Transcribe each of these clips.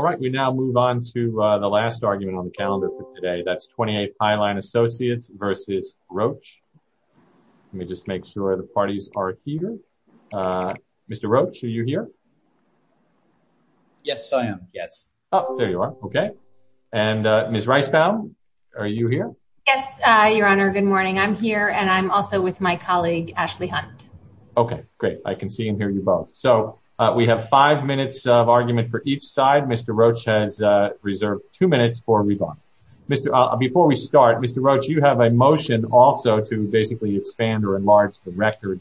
All right, we now move on to the last argument on the calendar for today. That's 28th Highline Associates versus Roche. Let me just make sure the parties are here. Mr. Roche, are you here? Yes, I am. Yes. Oh, there you are. Okay. And Ms. Reispel, are you here? Yes, Your Honor. Good morning. I'm here, and I'm also with my colleague, Ashley Hunt. Okay, great. I can see and hear you both. So, we have five minutes of argument for each side. Mr. Roche has reserved two minutes for a rebuttal. Before we start, Mr. Roche, you have a motion also to basically expand or enlarge the record.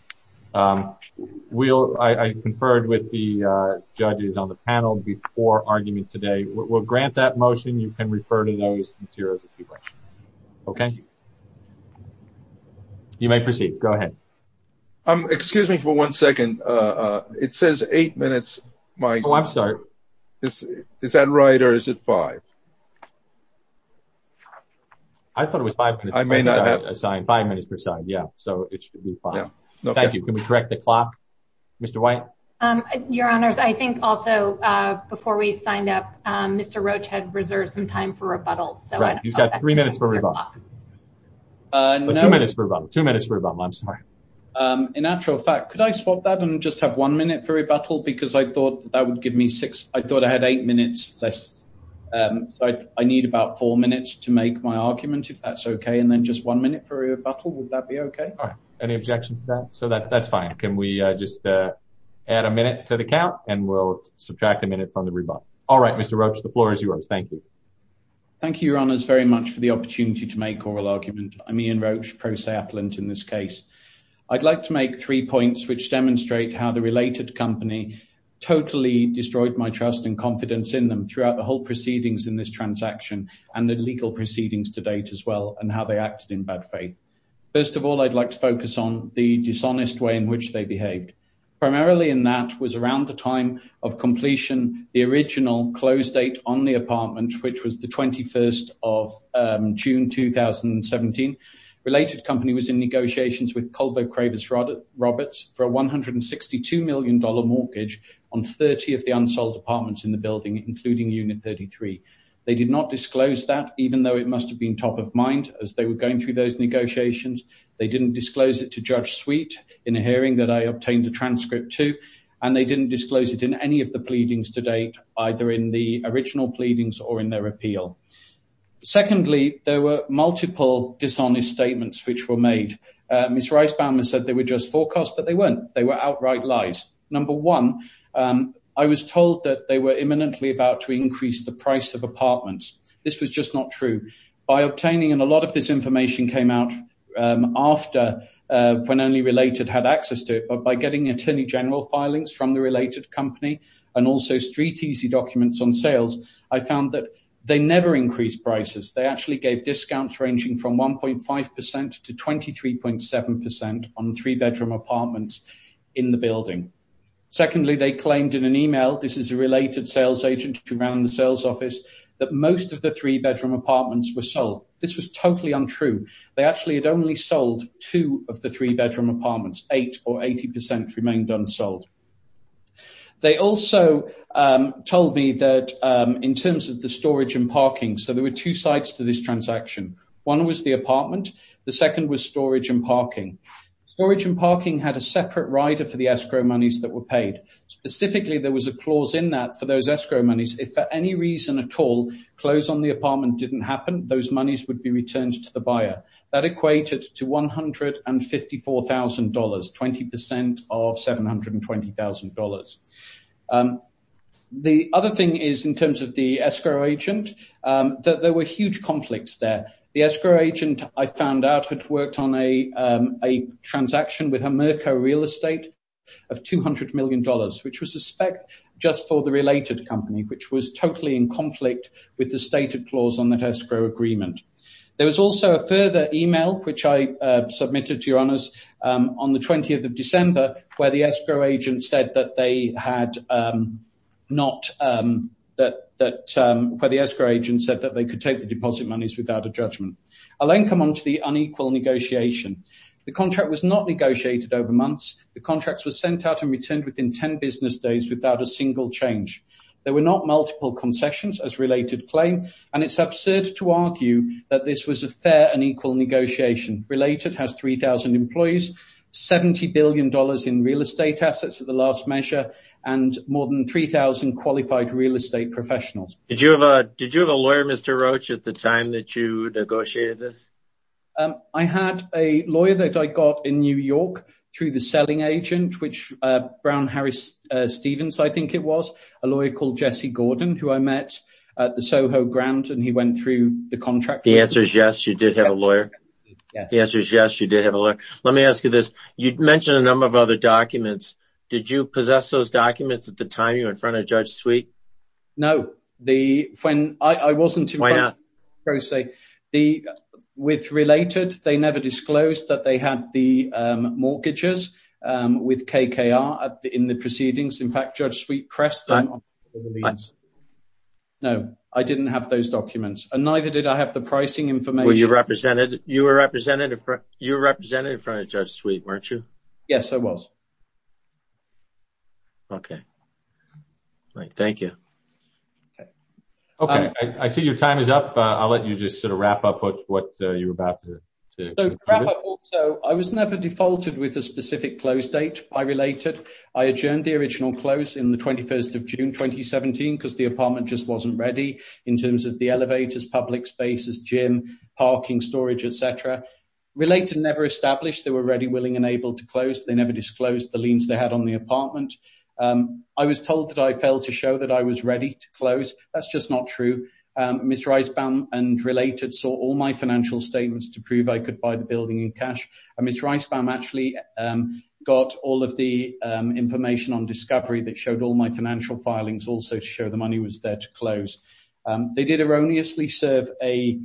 I conferred with the judges on the panel before argument today. We'll grant that motion. You can refer to those materials if you like, okay? You may proceed. Go ahead. Excuse me for one second. It says eight minutes. Oh, I'm sorry. Is that right, or is it five? I thought it was five minutes. I may not have— Five minutes per side, yeah. So, it should be five. Yeah. Okay. Thank you. Can we correct the clock? Mr. White? Your Honors, I think also, before we signed up, Mr. Roche had reserved some time for rebuttal, so— Right. You've got three minutes for rebuttal. No— Two minutes for rebuttal. Two minutes for rebuttal. I'm sorry. Okay. In actual fact, could I swap that and just have one minute for rebuttal? Because I thought that would give me six—I thought I had eight minutes less. I need about four minutes to make my argument, if that's okay, and then just one minute for rebuttal. Would that be okay? All right. Any objections to that? So, that's fine. Can we just add a minute to the count, and we'll subtract a minute from the rebuttal. All right, Mr. Roche, the floor is yours. Thank you. Thank you, Your Honors, very much for the opportunity to make oral argument. I'm Ian Roche, pro se-appellant in this case. I'd like to make three points which demonstrate how the related company totally destroyed my trust and confidence in them throughout the whole proceedings in this transaction and the legal proceedings to date as well, and how they acted in bad faith. First of all, I'd like to focus on the dishonest way in which they behaved. Primarily in that was around the time of completion, the original close date on the apartment, which was the 21st of June 2017. Related company was in negotiations with Culbo Cravers Roberts for a $162 million mortgage on 30 of the unsold apartments in the building, including unit 33. They did not disclose that, even though it must have been top of mind as they were going through those negotiations. They didn't disclose it to Judge Sweet in a hearing that I obtained a transcript to, and they didn't disclose it in any of the pleadings to date, either in the original pleadings or in their appeal. Secondly, there were multiple dishonest statements which were made. Ms. Reisbaum has said they were just forecasts, but they weren't. They were outright lies. Number one, I was told that they were imminently about to increase the price of apartments. This was just not true. By obtaining, and a lot of this information came out after, when only related had access to it, but by getting attorney general filings from the related company, and also street easy documents on sales, I found that they never increased prices. They actually gave discounts ranging from 1.5% to 23.7% on three-bedroom apartments in the building. Secondly, they claimed in an email, this is a related sales agent who ran the sales office, that most of the three-bedroom apartments were sold. This was totally untrue. They actually had only sold two of the three-bedroom apartments, eight or 80% remained unsold. They also told me that in terms of the storage and parking, so there were two sides to this transaction. One was the apartment. The second was storage and parking. Storage and parking had a separate rider for the escrow monies that were paid. Specifically, there was a clause in that for those escrow monies. If for any reason at all, close on the apartment didn't happen, those monies would be returned to the buyer. That equated to $154,000, 20% of $720,000. The other thing is in terms of the escrow agent, that there were huge conflicts there. The escrow agent, I found out, had worked on a transaction with a Merco real estate of $200 million, which was a spec just for the related company, which was totally in conflict with the stated clause on that escrow agreement. There was also a further email, which I submitted to your honors on the 20th of December, where the escrow agent said that they could take the deposit monies without a judgment. I'll then come on to the unequal negotiation. The contract was not negotiated over months. The contracts were sent out and returned within 10 business days without a single change. There were not multiple concessions as related claim, and it's absurd to argue that this was a fair and equal negotiation. Related has 3,000 employees, $70 billion in real estate assets at the last measure, and more than 3,000 qualified real estate professionals. Did you have a lawyer, Mr. Roach, at the time that you negotiated this? I had a lawyer that I got in New York through the selling agent, which Brown Harris Stevens, I think it was, a lawyer called Jesse Gordon, who I met at the SoHo grant, and he went through the contract with me. The answer is yes, you did have a lawyer? Yes. The answer is yes, you did have a lawyer. Let me ask you this. You'd mentioned a number of other documents. Did you possess those documents at the time you were in front of Judge Sweet? No. When I wasn't in front of Judge Sweet, with Related, they never disclosed that they had the mortgages with KKR in the proceedings. In fact, Judge Sweet pressed them on the release. No, I didn't have those documents. And neither did I have the pricing information. You were represented in front of Judge Sweet, weren't you? Yes, I was. Okay. All right. Thank you. Okay. I see your time is up. I'll let you just sort of wrap up what you were about to do. So, I was never defaulted with a specific close date by Related. I adjourned the original close in the 21st of June, 2017, because the apartment just has public spaces, gym, parking, storage, et cetera. Related never established they were ready, willing, and able to close. They never disclosed the liens they had on the apartment. I was told that I failed to show that I was ready to close. That's just not true. Mr. Eisbaum and Related saw all my financial statements to prove I could buy the building in cash. And Mr. Eisbaum actually got all of the information on Discovery that showed all my financial filings also to show the money was there to close. They did erroneously serve a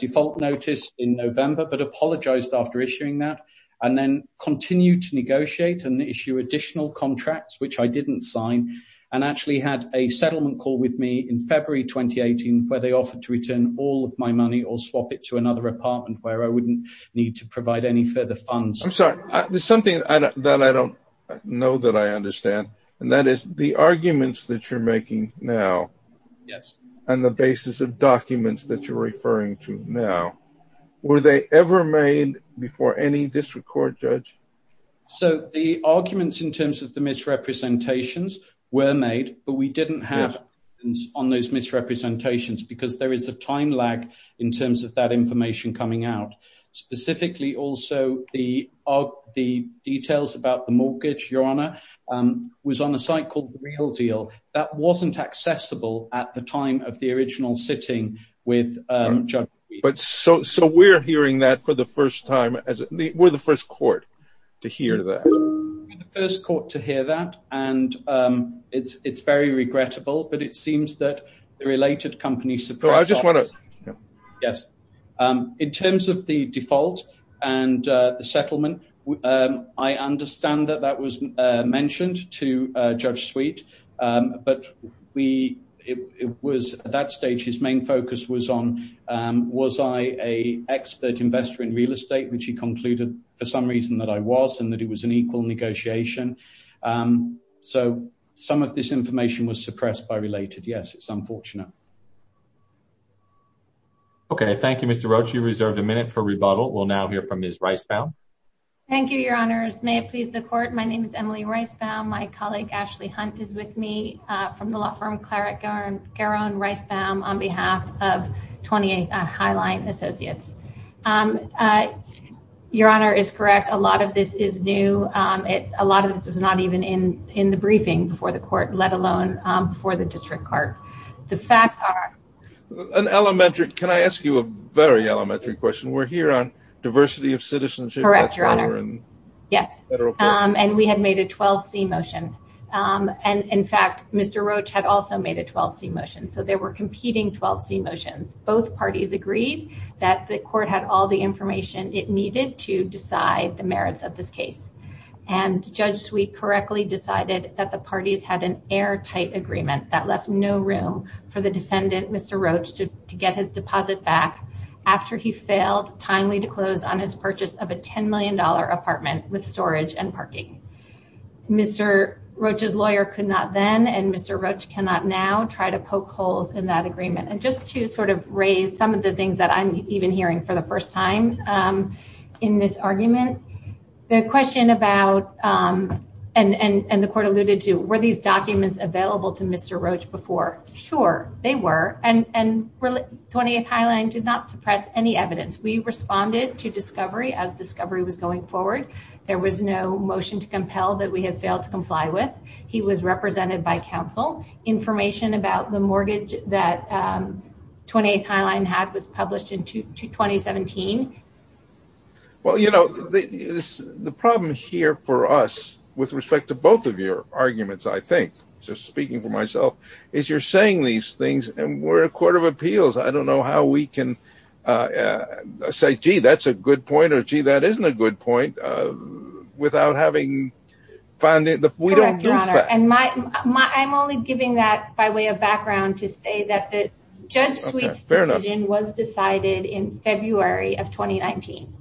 default notice in November, but apologized after issuing that and then continued to negotiate and issue additional contracts, which I didn't sign, and actually had a settlement call with me in February, 2018, where they offered to return all of my money or swap it to another apartment where I wouldn't need to provide any further funds. I'm sorry. There's something that I don't know that I understand, and that is the arguments that you're making now. Yes. And the basis of documents that you're referring to now, were they ever made before any district court judge? So the arguments in terms of the misrepresentations were made, but we didn't have on those misrepresentations because there is a time lag in terms of that information coming out. Specifically also, the details about the mortgage, Your Honor, was on a site called Real Deal. That wasn't accessible at the time of the original sitting with Judge Sweet. So we're hearing that for the first time, we're the first court to hear that. We're the first court to hear that, and it's very regrettable, but it seems that the related companies suppress our... So I just want to... Yes. In terms of the default and the settlement, I understand that that was mentioned to Judge Sweet, but it was at that stage, his main focus was on, was I a expert investor in real estate, which he concluded for some reason that I was, and that it was an equal negotiation. So some of this information was suppressed by related. Yes, it's unfortunate. Okay. Thank you, Mr. Roach. You reserved a minute for rebuttal. We'll now hear from Ms. Reisbaum. Thank you, Your Honors. May it please the court. My name is Emily Reisbaum. My colleague, Ashley Hunt, is with me from the law firm Claret-Garonne Reisbaum on behalf of 28 Highline Associates. Your Honor, it's correct. A lot of this is new. A lot of this was not even in the briefing before the court, let alone for the district court. The facts are... An elementary... Can I ask you a very elementary question? We're here on diversity of citizenship. Correct, Your Honor. That's why we're in federal court. Yes. That's why we're in federal court. And we had made a 12C motion. And in fact, Mr. Roach had also made a 12C motion. So they were competing 12C motions. Both parties agreed that the court had all the information it needed to decide the merits of this case. And Judge Sweet correctly decided that the parties had an airtight agreement that left no room for the defendant, Mr. Roach, to get his deposit back after he failed timely to Mr. Roach's lawyer could not then and Mr. Roach cannot now try to poke holes in that agreement. And just to sort of raise some of the things that I'm even hearing for the first time in this argument, the question about... And the court alluded to, were these documents available to Mr. Roach before? Sure, they were. And 28 Highline did not suppress any evidence. We responded to discovery as discovery was going forward. There was no motion to compel that we had failed to comply with. He was represented by counsel. Information about the mortgage that 28 Highline had was published in 2017. Well, you know, the problem here for us with respect to both of your arguments, I think, just speaking for myself, is you're saying these things and we're a court of appeals. I don't know how we can say, gee, that's a good point or, gee, that isn't a good point without having found it. We don't do facts. Correct, Your Honor. And I'm only giving that by way of background to say that Judge Sweet's decision was decided in February of 2019.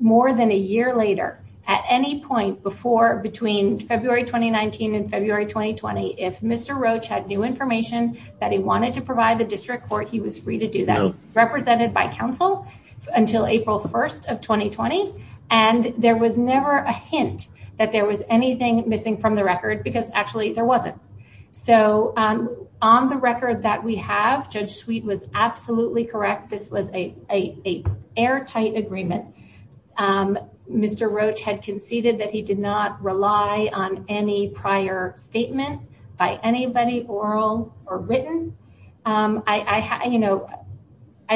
More than a year later, at any point before between February 2019 and February 2020, if he's free to do that, represented by counsel until April 1st of 2020. And there was never a hint that there was anything missing from the record because actually there wasn't. So on the record that we have, Judge Sweet was absolutely correct. This was a airtight agreement. Mr. Roach had conceded that he did not rely on any prior statement by anybody, oral or written. I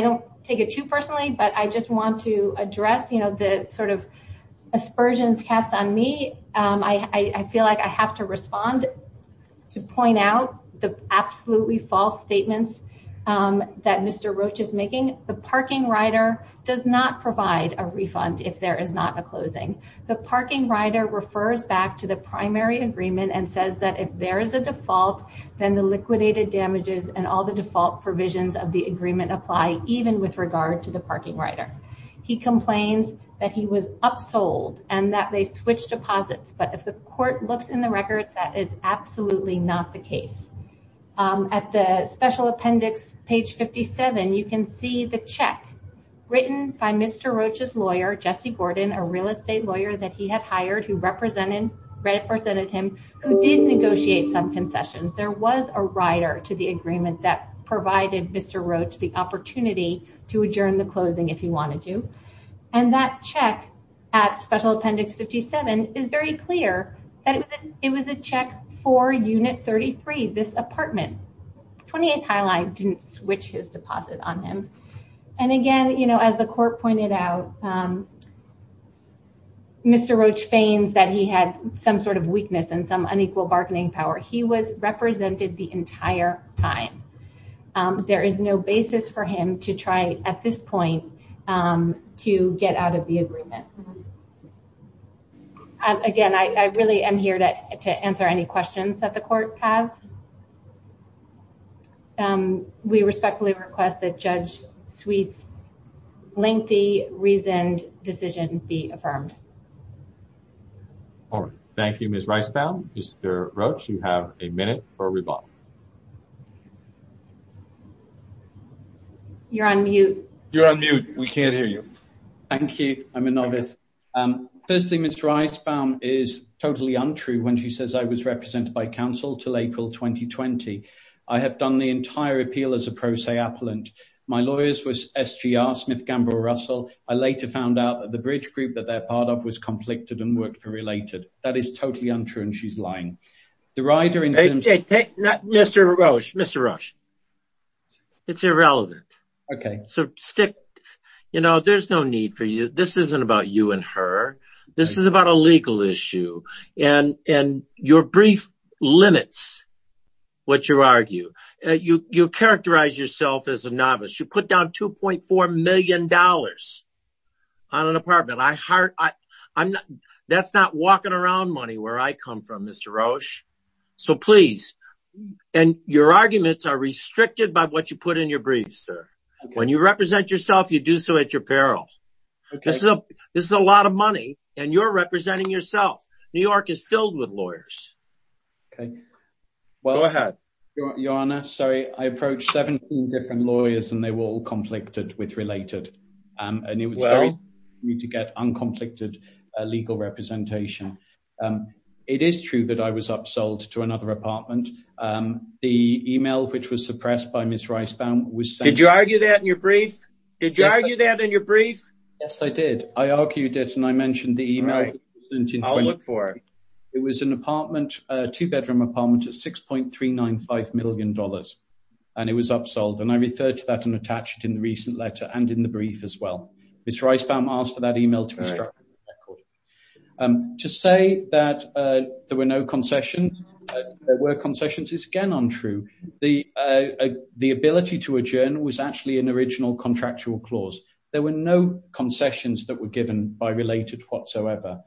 don't take it too personally, but I just want to address the sort of aspersions cast on me. I feel like I have to respond to point out the absolutely false statements that Mr. Roach is making. The parking rider does not provide a refund if there is not a closing. The parking rider refers back to the primary agreement and says that if there is a default, then the liquidated damages and all the default provisions of the agreement apply even with regard to the parking rider. He complains that he was upsold and that they switched deposits. But if the court looks in the record, that is absolutely not the case. At the special appendix, page 57, you can see the check written by Mr. Roach's lawyer, Jesse Gordon, a real estate lawyer that he had hired who represented him, who did negotiate some concessions. There was a rider to the agreement that provided Mr. Roach the opportunity to adjourn the closing if he wanted to. That check at special appendix 57 is very clear that it was a check for unit 33, this apartment. 28th Highline didn't switch his deposit on him. Again, as the court pointed out, Mr. Roach feigns that he had some sort of weakness and some unequal bargaining power. He was represented the entire time. There is no basis for him to try, at this point, to get out of the agreement. Again, I really am here to answer any questions that the court has. We respectfully request that Judge Sweet's lengthy, reasoned decision be affirmed. Thank you, Ms. Reisbaum. Mr. Roach, you have a minute for a rebuttal. You're on mute. You're on mute. We can't hear you. Thank you. I'm a novice. Firstly, Ms. Reisbaum is totally untrue when she says I was represented by Council until April 2020. I have done the entire appeal as a pro se appellant. My lawyer was SGR, Smith Gamble Russell. I later found out that the bridge group that they're part of was conflicted and worked for Related. That is totally untrue, and she's lying. The rider in… Mr. Roach. Mr. Roach. It's irrelevant. Okay. So stick… You know, there's no need for you… This isn't about you and her. This is about a legal issue, and your brief limits what you argue. You characterize yourself as a novice. You put down $2.4 million on an apartment. I hired… I'm not… That's not walking around money where I come from, Mr. Roach. So please, and your arguments are restricted by what you put in your briefs, sir. When you represent yourself, you do so at your peril. Okay. This is a lot of money, and you're representing yourself. New York is filled with lawyers. Okay. Go ahead. Your Honor, sorry, I approached 17 different lawyers, and they were all conflicted with Related, and it was very easy for me to get unconflicted legal representation. It is true that I was upsold to another apartment. The email which was suppressed by Ms. Reisbaum was saying… Did you argue that in your brief? Did you argue that in your brief? Yes, I did. I argued it, and I mentioned the email. Right. I'll look for it. It was an apartment, a two-bedroom apartment at $6.395 million, and it was upsold, and I referred to that and attached it in the recent letter and in the brief as well. Ms. Reisbaum asked for that email to construct the record. To say that there were no concessions, there were concessions, is again untrue. The ability to adjourn was actually an original contractual clause. There were no concessions that were given by Related whatsoever.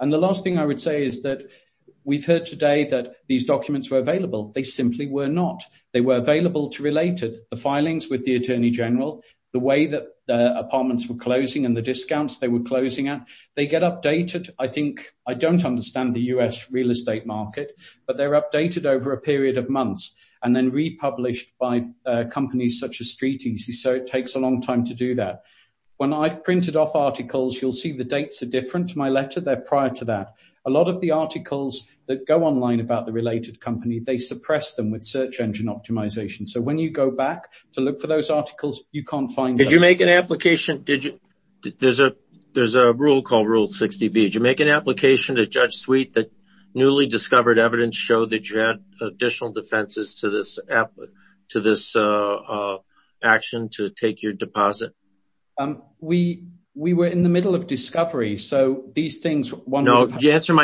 The last thing I would say is that we've heard today that these documents were available. They simply were not. They were available to Related. The filings with the Attorney General, the way that the apartments were closing and the discounts they were closing at, they get updated. I think… I don't understand the U.S. real estate market, but they're updated over a period of months and then republished by companies such as StreetEasy, so it takes a long time to do that. When I've printed off articles, you'll see the dates are different. They're prior to that. A lot of the articles that go online about the Related company, they suppress them with search engine optimization, so when you go back to look for those articles, you can't find them. Did you make an application? Did you… There's a rule called Rule 60B. Did you make an application to Judge Sweet that newly discovered evidence showed that you had additional defenses to this action to take your deposit? We were in the middle of discovery, so these things… No. Answer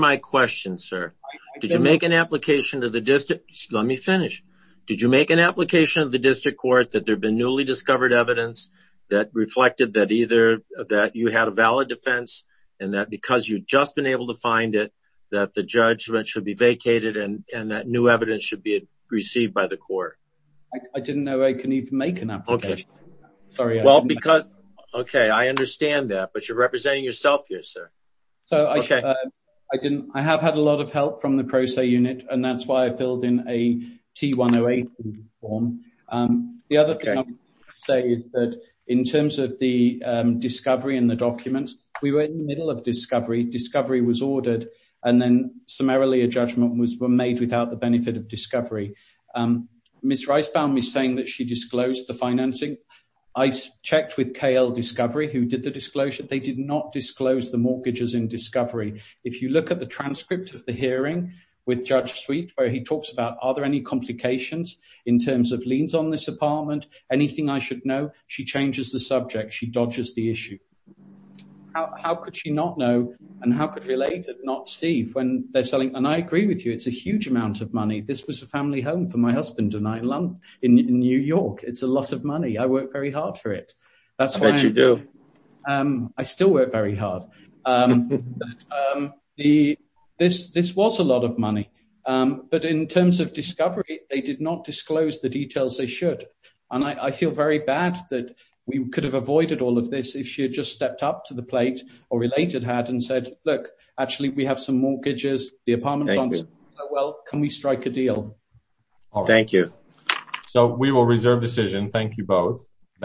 my question, sir. Did you make an application to the district… Let me finish. Did you make an application to the district court that there had been newly discovered evidence that reflected that you had a valid defense and that because you'd just been able to find it, that the judgment should be vacated and that new evidence should be received by the court? I didn't know I could even make an application. Okay. Sorry. Well, because… Okay. I understand that, but you're representing yourself here, sir. Okay. I have had a lot of help from the Pro Se Unit, and that's why I filled in a T-108 form. Okay. The other thing I want to say is that in terms of the discovery and the documents, we were in the middle of discovery. Discovery was ordered, and then summarily a judgment was made without the benefit of discovery. Ms. Reisbaum is saying that she disclosed the financing. I checked with KL Discovery, who did the disclosure. They did not disclose the mortgages in discovery. If you look at the transcript of the hearing with Judge Sweet, where he talks about are there any complications in terms of liens on this apartment, anything I should know, she changes the subject. She dodges the issue. How could she not know, and how could Related not see when they're selling? And I agree with you. It's a huge amount of money. This was a family home for my husband and I in New York. It's a lot of money. I worked very hard for it. I bet you do. I still work very hard. This was a lot of money. But in terms of discovery, they did not disclose the details they should. And I feel very bad that we could have avoided all of this if she had just stepped up to the plate, or Related had, and said, look, actually, we have some mortgages. Thank you. Well, can we strike a deal? Thank you. So we will reserve decision. Thank you both.